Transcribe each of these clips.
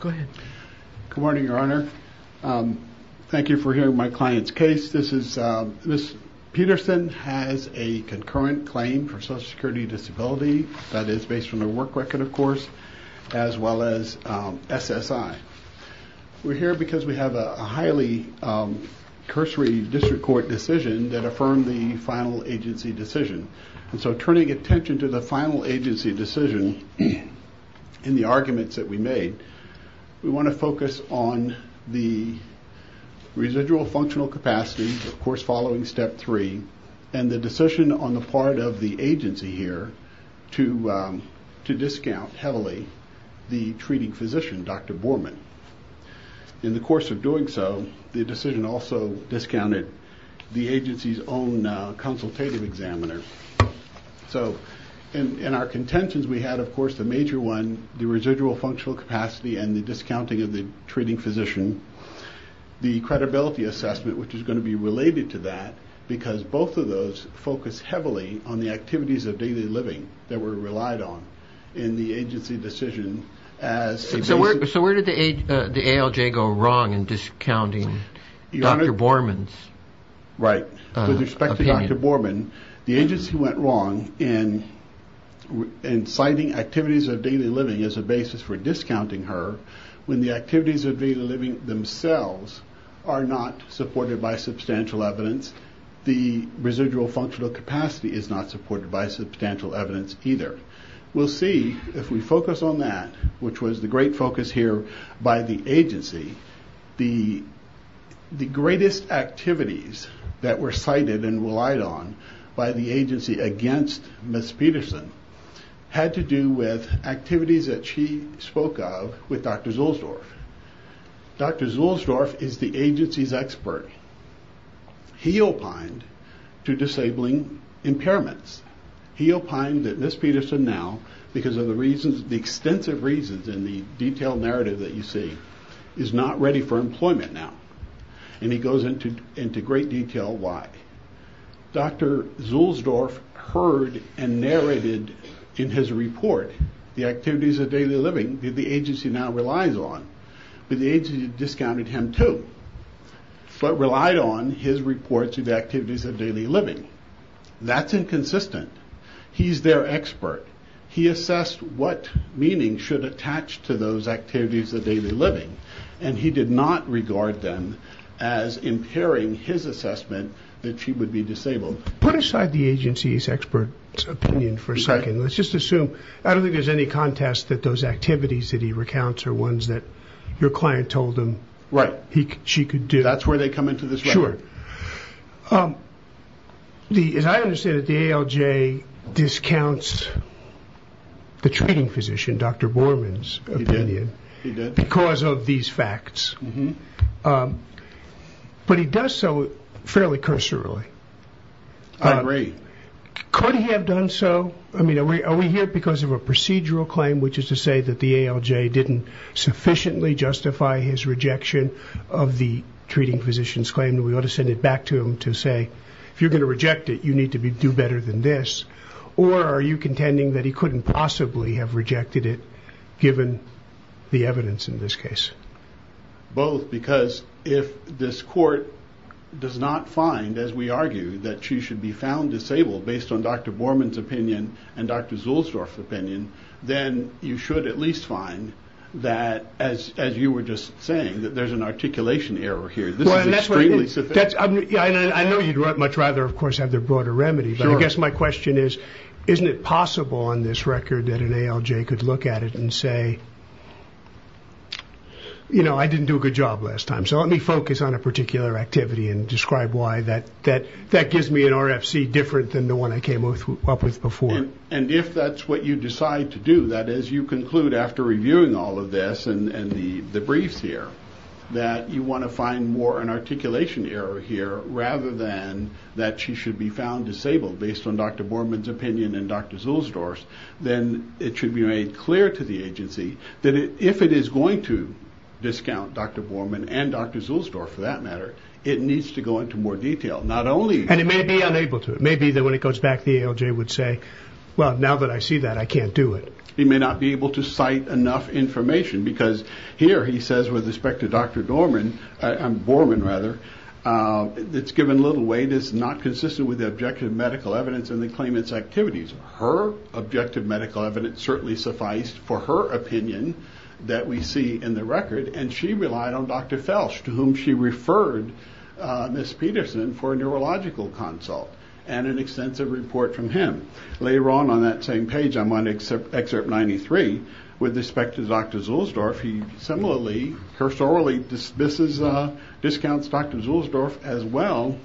Go ahead. Good morning, Your Honor. Thank you for hearing my client's case. Ms. Peterson has a concurrent claim for Social Security Disability, that is based on her work record, of course, as well as SSI. We're here because we have a highly cursory district court decision that affirmed the final agency decision. And so turning attention to the final agency decision in the arguments that we made, we want to focus on the residual functional capacity, of course, following step three, and the decision on the part of the agency here to discount heavily the treating physician, Dr. Borman. In the course of doing so, the decision also discounted the agency's own consultative examiner. So in our contentions, we had, of course, the major one, the residual functional capacity, and the discounting of the treating physician, the credibility assessment, which is going to be related to that, because both of those focus heavily on the activities of daily living that were relied on in the agency decision as... When the activities of daily living themselves are not supported by substantial evidence, the residual functional capacity is not supported by substantial evidence either. We'll see, if we focus on that, which was the great focus here by the agency, the greatest activities that were cited and relied on by the agency against Ms. Peterson had to do with activities that she spoke of, which were with Dr. Zuhlsdorf. Dr. Zuhlsdorf is the agency's expert. He opined to disabling impairments. He opined that Ms. Peterson now, because of the reasons, the extensive reasons in the detailed narrative that you see, is not ready for employment now. And he goes into great detail why. Dr. Zuhlsdorf heard and narrated in his report the activities of daily living that the agency now relies on, but the agency discounted him too, but relied on his reports of the activities of daily living. That's inconsistent. He's their expert. He assessed what meaning should attach to those activities of daily living, and he did not regard them as impairing his assessment that she would be better off. Put aside the agency's expert opinion for a second. Let's just assume, I don't think there's any contest that those activities that he recounts are ones that your client told him she could do. Sure. As I understand it, the ALJ discounts the treating physician, Dr. Borman's opinion, because of these facts. But he does so fairly cursorily. I agree. Could he have done so? I mean, are we here because of a procedural claim, which is to say that the ALJ didn't sufficiently justify his rejection of the treating physician's claim, that we ought to send it back to him to say, if you're going to reject it, you need to do better than this? Or are you contending that he couldn't possibly have rejected it, given the evidence in this case? Both, because if this court does not find, as we argue, that she should be found disabled based on Dr. Borman's opinion and Dr. Zulsdorf's opinion, then you should at least find that, as you were just saying, that there's an articulation error here. I know you'd much rather, of course, have the broader remedy, but I guess my question is, isn't it possible on this record that an ALJ could look at it and say, you know, I didn't do a good job last time, so let me focus on a particular activity and describe why that gives me an RFC different than the one I came up with before. And if that's what you decide to do, that is, you conclude after reviewing all of this and the briefs here that you want to find more an articulation error here, rather than that she should be found disabled based on Dr. Borman's opinion and Dr. Zulsdorf's, then it should be made clear to the agency that if it is going to discount Dr. Borman and Dr. Zulsdorf, for that matter, it needs to go into more detail. And it may be unable to. It may be that when it goes back, the ALJ would say, well, now that I see that, I can't do it. He may not be able to cite enough information, because here he says with respect to Dr. Borman, it's given little weight, it's not consistent with the objective medical evidence and the claimant's activities. Her objective medical evidence certainly sufficed for her opinion that we see in the record, and she relied on Dr. Felsch, to whom she referred Ms. Peterson for a neurological consult and an extensive report from him. Later on, on that same page, I'm on Excerpt 93, with respect to Dr. Zulsdorf, he similarly, cursorily discounts Dr. Zulsdorf as well,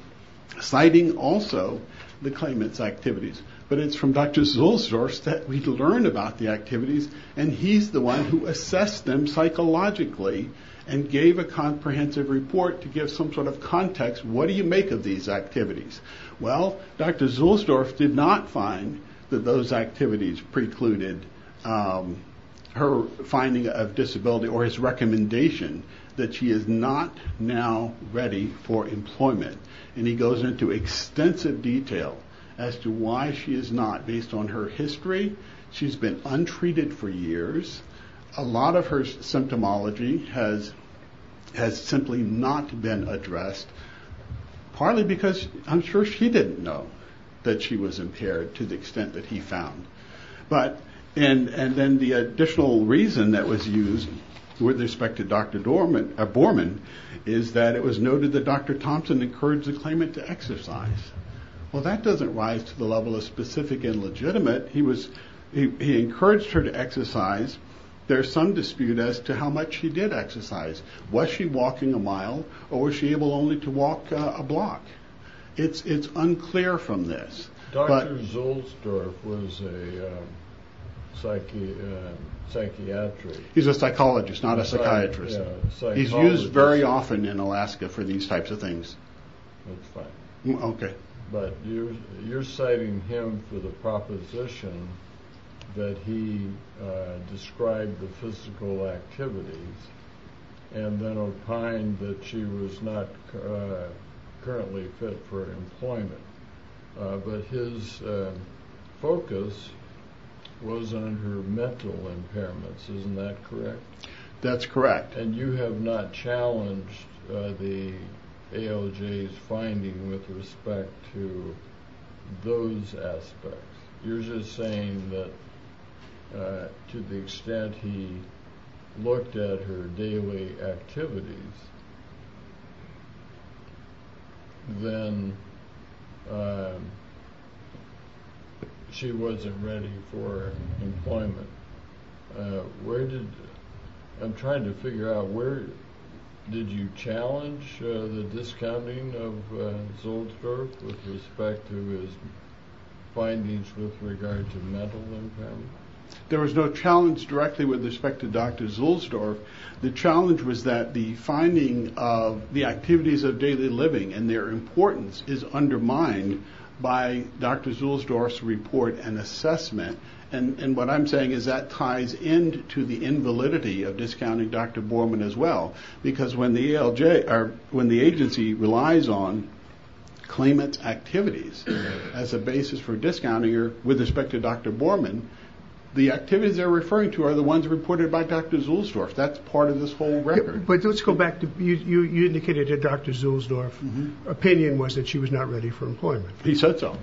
citing also the claimant's activities. But it's from Dr. Zulsdorf that we learn about the activities, and he's the one who assessed them psychologically and gave a comprehensive report to give some sort of context, what do you make of these activities? Well, Dr. Zulsdorf did not find that those activities precluded her finding of disability or his recommendation that she is not now ready for employment. And he goes into extensive detail as to why she is not, based on her history, she's been untreated for years, a lot of her symptomology has simply not been addressed, partly because I'm sure she didn't know that she was impaired to the extent that he found. But, and then the additional reason that was used, with respect to Dr. Borman, is that it was noted that Dr. Thompson encouraged the claimant to exercise. Well, that doesn't rise to the level of specific and legitimate, he encouraged her to exercise, there's some dispute as to how much she did exercise. Was she walking a mile, or was she able only to walk a block? It's unclear from this. Dr. Zulsdorf was a psychiatrist. He's a psychologist, not a psychiatrist. He's used very often in Alaska for these types of things. That's fine. But you're citing him for the proposition that he described the physical activities, and then opined that she was not currently fit for employment. But his focus was on her mental impairments, isn't that correct? That's correct. And you have not challenged the ALJ's finding with respect to those aspects. You're just saying that to the extent he looked at her daily activities, then she wasn't ready for employment. I'm trying to figure out, did you challenge the discounting of Zulsdorf with respect to his findings with regard to mental impairment? There was no challenge directly with respect to Dr. Zulsdorf. The challenge was that the finding of the activities of daily living and their importance is undermined by Dr. Zulsdorf's report and assessment. And what I'm saying is that ties into the invalidity of discounting Dr. Borman as well, because when the agency relies on claimant's activities as a basis for discounting with respect to Dr. Borman, the activities they're referring to are the ones reported by Dr. Zulsdorf. That's part of this whole record. But let's go back. You indicated that Dr. Zulsdorf's opinion was that she was not ready for employment. He said so.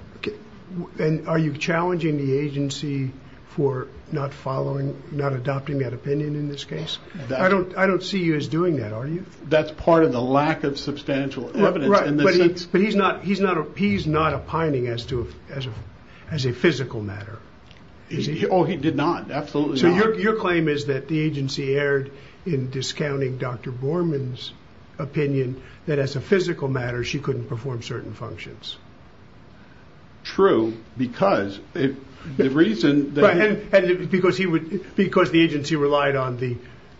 Are you challenging the agency for not adopting that opinion in this case? I don't see you as doing that, are you? That's part of the lack of substantial evidence. But he's not opining as a physical matter. Oh, he did not. Absolutely not. So your claim is that the agency erred in discounting Dr. Borman's opinion that as a physical matter, she couldn't perform certain functions. True, because the reason... Because the agency relied on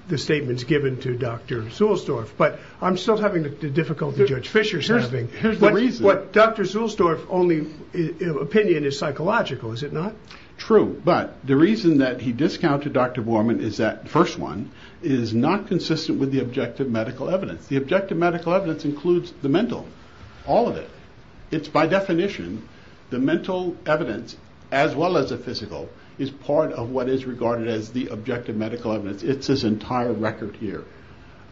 the statements given to Dr. Zulsdorf. But I'm still having the difficulty Judge Fischer's having. Here's the reason. Dr. Zulsdorf's only opinion is psychological, is it not? True, but the reason that he discounted Dr. Borman is that, first one, is not consistent with the objective medical evidence. The objective medical evidence includes the mental, all of it. It's by definition, the mental evidence, as well as the physical, is part of what is regarded as the objective medical evidence. It's his entire record here.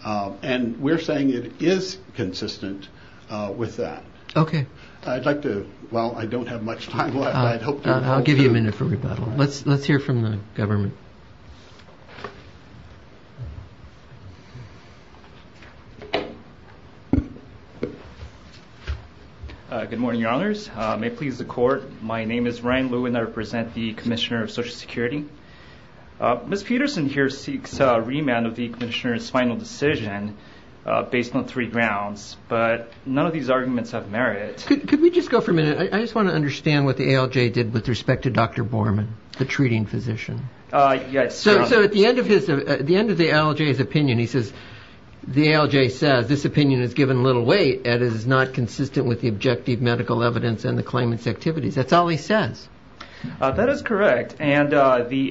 And we're saying it is consistent with that. Okay. I'd like to... Well, I don't have much time left. I'll give you a minute for rebuttal. Let's hear from the government. Good morning, Your Honors. May it please the court, my name is Ryan Lewin. I represent the Commissioner of Social Security. Ms. Peterson here seeks remand of the Commissioner's final decision based on three grounds, but none of these arguments have merit. Could we just go for a minute? I just want to understand what the ALJ did with respect to Dr. Borman, the treating physician. Yes. So at the end of the ALJ's opinion, he says, the ALJ says, this opinion is given little weight and is not consistent with the objective medical evidence and the claimant's activities. That's all he says. That is correct. And the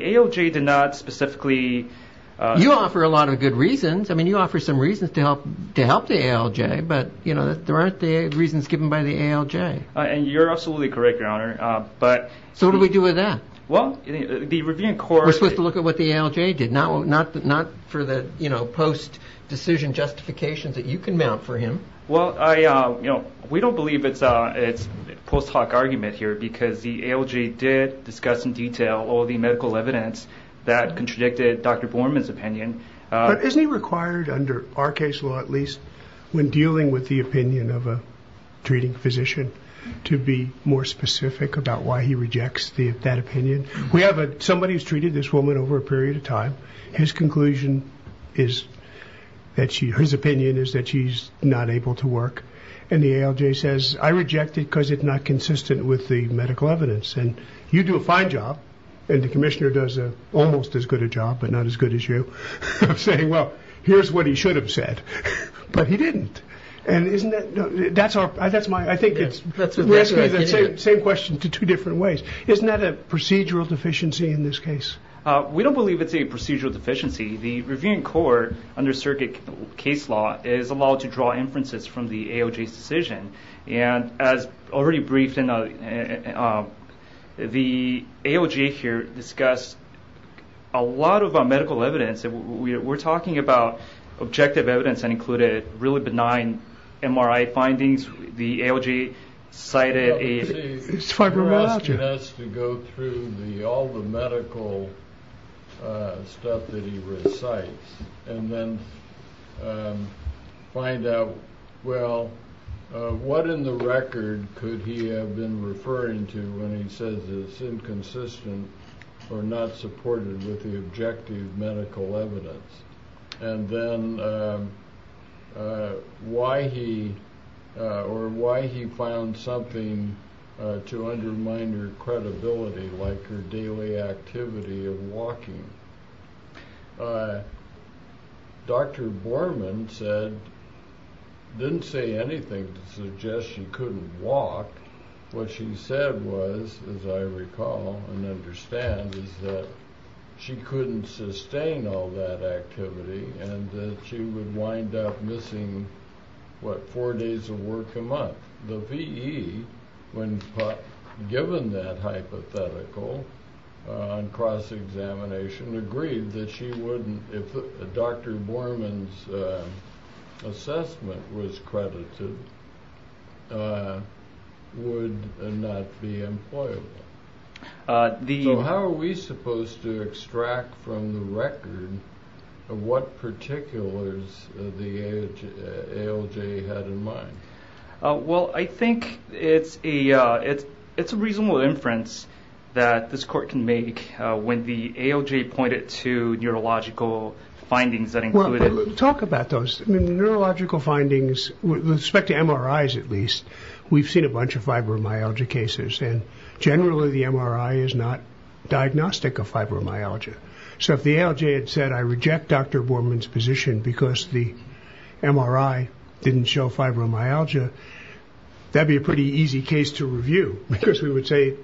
ALJ did not specifically... You offer a lot of good reasons. I mean, you offer some reasons to help the ALJ, but there aren't the reasons given by the ALJ. And you're absolutely correct, Your Honor. So what do we do with that? Well, the Review and Court... We're supposed to look at what the ALJ did, not for the post-decision justifications that you can mount for him. Well, we don't believe it's a post hoc argument here because the ALJ did discuss in detail all the medical evidence that contradicted Dr. Borman's opinion. But isn't he required, under our case law at least, when dealing with the opinion of a treating physician, to be more specific about why he rejects that opinion? We have somebody who's treated this woman over a period of time. His conclusion is that she... his opinion is that she's not able to work. And the ALJ says, I reject it because it's not consistent with the medical evidence. And you do a fine job, and the commissioner does almost as good a job, but not as good as you. I'm saying, well, here's what he should have said, but he didn't. And isn't that... that's our... that's my... I think it's... Same question to two different ways. Isn't that a procedural deficiency in this case? We don't believe it's a procedural deficiency. The Review and Court under circuit case law is allowed to draw inferences from the ALJ's decision. And as already briefed, the ALJ here discussed a lot of medical evidence. We're talking about objective evidence that included really benign MRI findings. The ALJ cited a... What in the record could he have been referring to when he says it's inconsistent or not supported with the objective medical evidence? And then why he... or why he found something to undermine her credibility, like her daily activity of walking. Dr. Borman said... didn't say anything to suggest she couldn't walk. What she said was, as I recall and understand, is that she couldn't sustain all that activity, and that she would wind up missing, what, four days of work a month. The VE, when given that hypothetical on cross-examination, agreed that she wouldn't... if Dr. Borman's assessment was credited, would not be employable. So how are we supposed to extract from the record what particulars the ALJ had in mind? Well, I think it's a reasonable inference that this court can make when the ALJ pointed to neurological findings that included... Well, talk about those. Neurological findings, with respect to MRIs at least, we've seen a bunch of fibromyalgia cases, and generally the MRI is not diagnostic of fibromyalgia. So if the ALJ had said, I reject Dr. Borman's position because the MRI didn't show fibromyalgia, that'd be a pretty easy case to review, because we would say...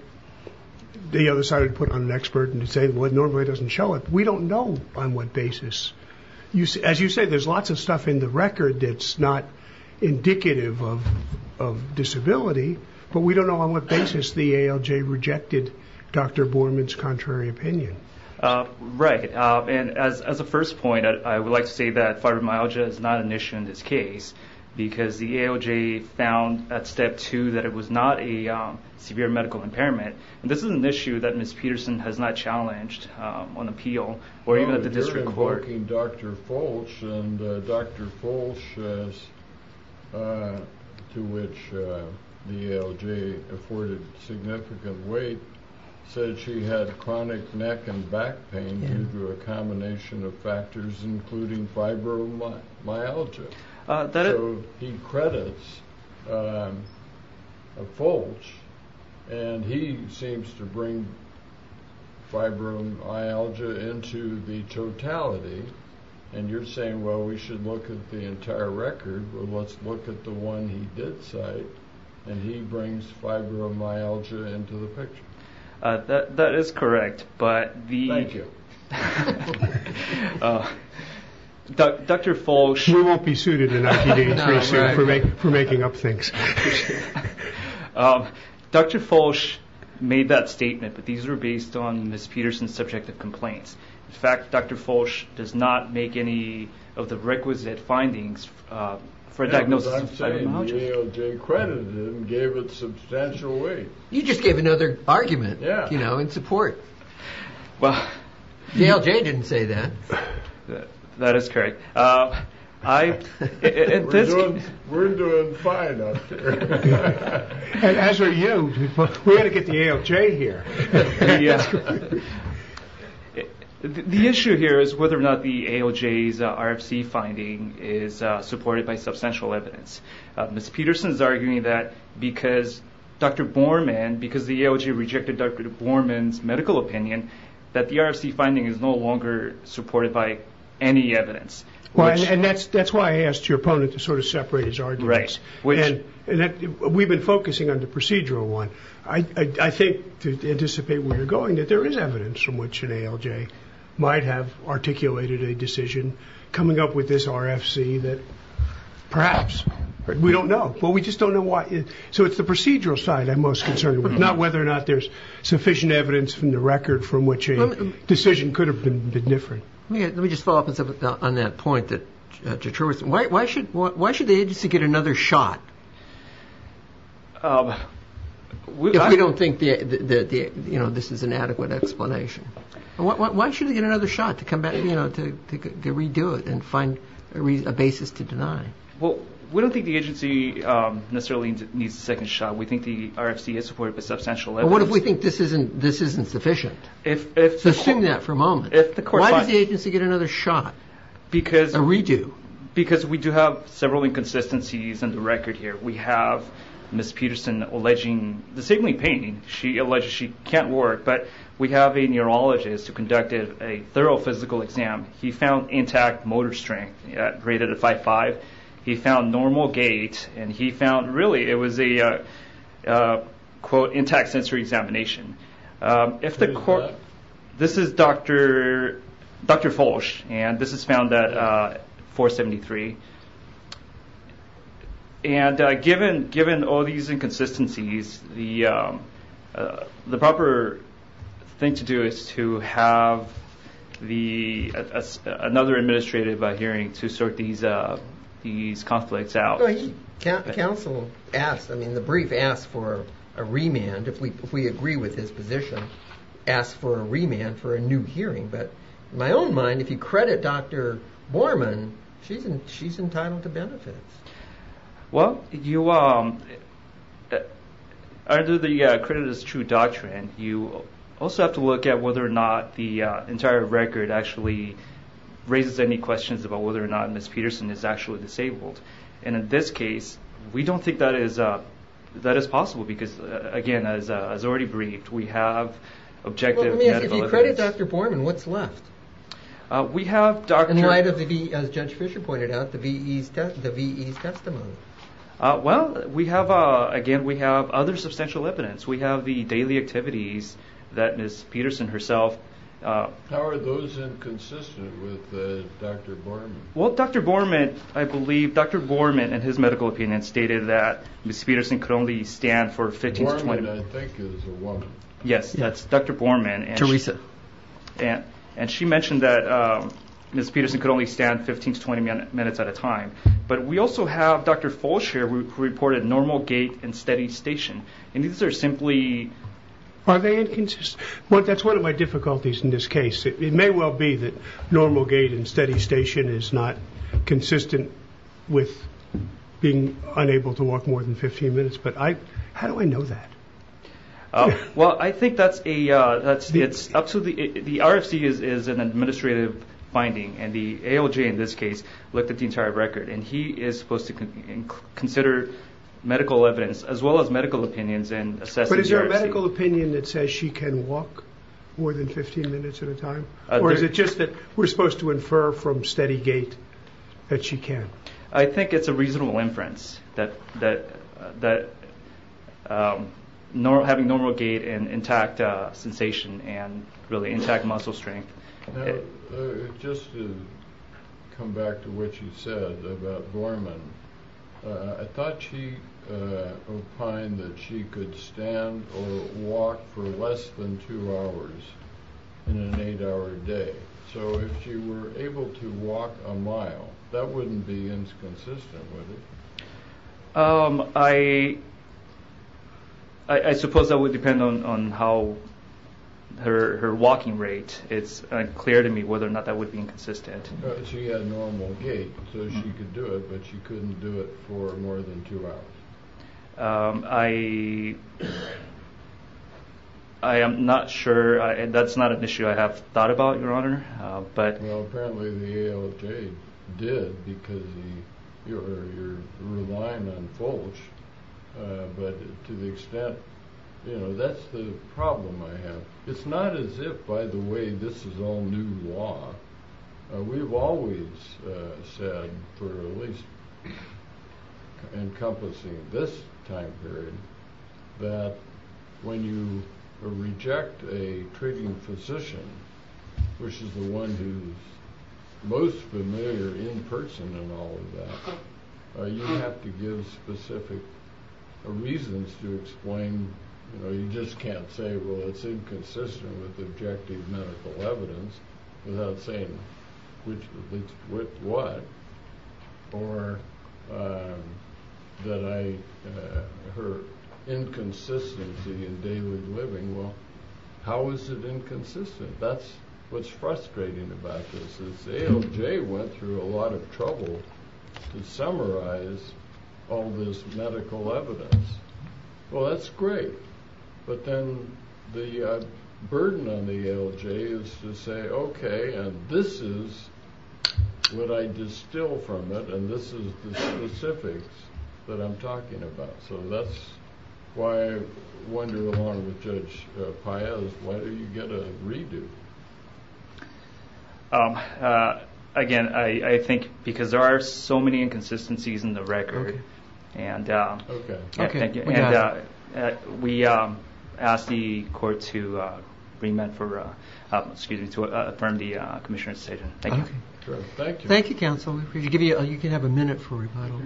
the other side would put on an expert and say, well, it normally doesn't show it. We don't know on what basis. As you say, there's lots of stuff in the record that's not indicative of disability, but we don't know on what basis the ALJ rejected Dr. Borman's contrary opinion. Right. And as a first point, I would like to say that fibromyalgia is not an issue in this case, because the ALJ found at step two that it was not a severe medical impairment, and this is an issue that Ms. Peterson has not challenged on appeal, or even at the district court. You're invoking Dr. Fulch, and Dr. Fulch, to which the ALJ afforded significant weight, said she had chronic neck and back pain due to a combination of factors including fibromyalgia. So he credits Fulch, and he seems to bring fibromyalgia into the totality, and you're saying, well, we should look at the entire record, but let's look at the one he did cite, and he brings fibromyalgia into the picture. That is correct, but the... Thank you. Dr. Fulch... We won't be suited in ITD for making up things. Dr. Fulch made that statement, but these were based on Ms. Peterson's subjective complaints. In fact, Dr. Fulch does not make any of the requisite findings for a diagnosis of fibromyalgia. But I'm saying the ALJ credited him and gave it substantial weight. You just gave another argument, you know, in support. Well... The ALJ didn't say that. That is correct. We're doing fine up here. And as are you. We've got to get the ALJ here. The issue here is whether or not the ALJ's RFC finding is supported by substantial evidence. Ms. Peterson is arguing that because Dr. Borman, because the ALJ rejected Dr. Borman's medical opinion, that the RFC finding is no longer supported by any evidence. And that's why I asked your opponent to sort of separate his arguments. We've been focusing on the procedural one. I think, to anticipate where you're going, that there is evidence from which an ALJ might have articulated a decision coming up with this RFC that perhaps we don't know. Well, we just don't know why. So it's the procedural side I'm most concerned with, not whether or not there's sufficient evidence from the record from which a decision could have been different. Let me just follow up on that point. Why should the agency get another shot? If we don't think that this is an adequate explanation. Why should they get another shot to come back, you know, to redo it and find a basis to deny? Well, we don't think the agency necessarily needs a second shot. We think the RFC is supported by substantial evidence. Well, what if we think this isn't sufficient? Assume that for a moment. Why does the agency get another shot, a redo? Because we do have several inconsistencies in the record here. We have Ms. Peterson alleging the signaling pain. She alleges she can't work. But we have a neurologist who conducted a thorough physical exam. He found intact motor strength at greater than 5.5. He found normal gait. And he found, really, it was a, quote, intact sensory examination. Who is that? This is Dr. Folch. And this is found at 4.73. And given all these inconsistencies, the proper thing to do is to have another administrative hearing to sort these conflicts out. Well, counsel asked, I mean, the brief asked for a remand, if we agree with his position, asked for a remand for a new hearing. But in my own mind, if you credit Dr. Borman, she's entitled to benefits. Well, you, under the credit as true doctrine, you also have to look at whether or not the entire record actually raises any questions about whether or not Ms. Peterson is actually disabled. And in this case, we don't think that is possible, because, again, as already briefed, we have objective medical evidence. If you credit Dr. Borman, what's left? We have Dr. Borman, as Judge Fischer pointed out, the VE's testimony. Well, we have, again, we have other substantial evidence. We have the daily activities that Ms. Peterson herself... How are those inconsistent with Dr. Borman? Well, Dr. Borman, I believe, Dr. Borman, in his medical opinion, stated that Ms. Peterson could only stand for 15 to 20... Borman, I think, is a woman. Yes, that's Dr. Borman. Teresa. And she mentioned that Ms. Peterson could only stand 15 to 20 minutes at a time. But we also have, Dr. Fulcher reported normal gait and steady station. And these are simply... Are they inconsistent? That's one of my difficulties in this case. It may well be that normal gait and steady station is not consistent with being unable to walk more than 15 minutes. But how do I know that? Well, I think that's a... The RFC is an administrative finding. And the ALJ, in this case, looked at the entire record. And he is supposed to consider medical evidence as well as medical opinions and assess the RFC. But is there a medical opinion that says she can walk more than 15 minutes at a time? Or is it just that we're supposed to infer from steady gait that she can? I think it's a reasonable inference that having normal gait and intact sensation and really intact muscle strength... Just to come back to what you said about Borman. I thought she opined that she could stand or walk for less than two hours in an eight-hour day. So if she were able to walk a mile, that wouldn't be inconsistent, would it? I suppose that would depend on how... Her walking rate. It's unclear to me whether or not that would be inconsistent. She had normal gait, so she could do it. But she couldn't do it for more than two hours. I am not sure. That's not an issue I have thought about, Your Honor. Well, apparently the ALJ did because you're relying on folks. But to the extent... That's the problem I have. It's not as if, by the way, this is all new law. We've always said, for at least encompassing this time period, that when you reject a treating physician, which is the one who's most familiar in person in all of that, you have to give specific reasons to explain. You just can't say, well, it's inconsistent with objective medical evidence without saying which... with what. Or that I... Her inconsistency in daily living. Well, how is it inconsistent? That's what's frustrating about this. The ALJ went through a lot of trouble to summarize all this medical evidence. Well, that's great. But then the burden on the ALJ is to say, okay, and this is what I distill from it, and this is the specifics that I'm talking about. So that's why I wonder along with Judge Paez, why do you get a redo? Again, I think because there are so many inconsistencies in the record. Okay. Okay, we got it. And we ask the court to remit for... excuse me, to affirm the commissioner's statement. Thank you. Thank you, counsel. You can have a minute for rebuttal.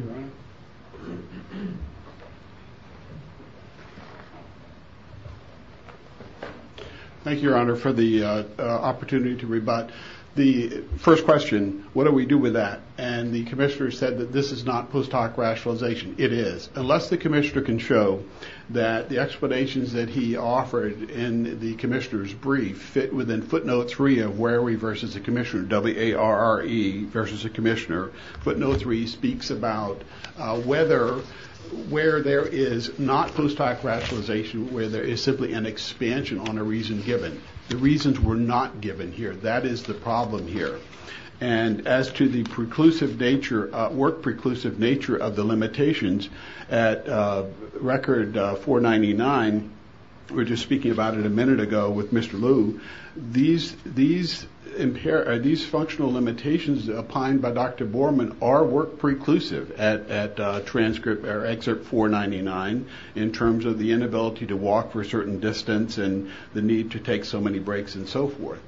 Thank you, Your Honor, for the opportunity to rebut. The first question, what do we do with that? And the commissioner said that this is not post-hoc rationalization. It is. Unless the commissioner can show that the explanations that he offered in the commissioner's brief fit within footnote three of where are we versus the commissioner, W-A-R-R-E versus the commissioner, footnote three speaks about whether where there is not post-hoc rationalization, where there is simply an expansion on a reason given. The reasons were not given here. That is the problem here. And as to the preclusive nature, work preclusive nature of the limitations, at record 499, we were just speaking about it a minute ago with Mr. Liu, these functional limitations applied by Dr. Borman are work preclusive at transcript or excerpt 499 in terms of the inability to walk for a certain distance and the need to take so many breaks and so forth.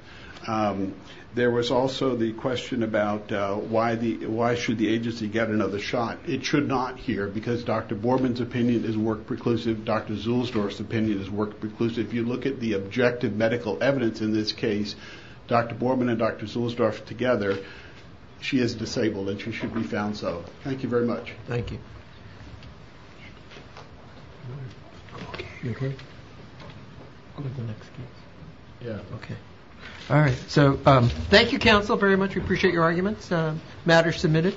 There was also the question about why should the agency get another shot? It should not here because Dr. Borman's opinion is work preclusive. Dr. Zuhlsdorf's opinion is work preclusive. If you look at the objective medical evidence in this case, Dr. Borman and Dr. Zuhlsdorf together, she is disabled and she should be found so. Thank you very much. Thank you. You okay? I'll get the next case. Okay. All right. So thank you, counsel, very much. We appreciate your arguments. Matter submitted.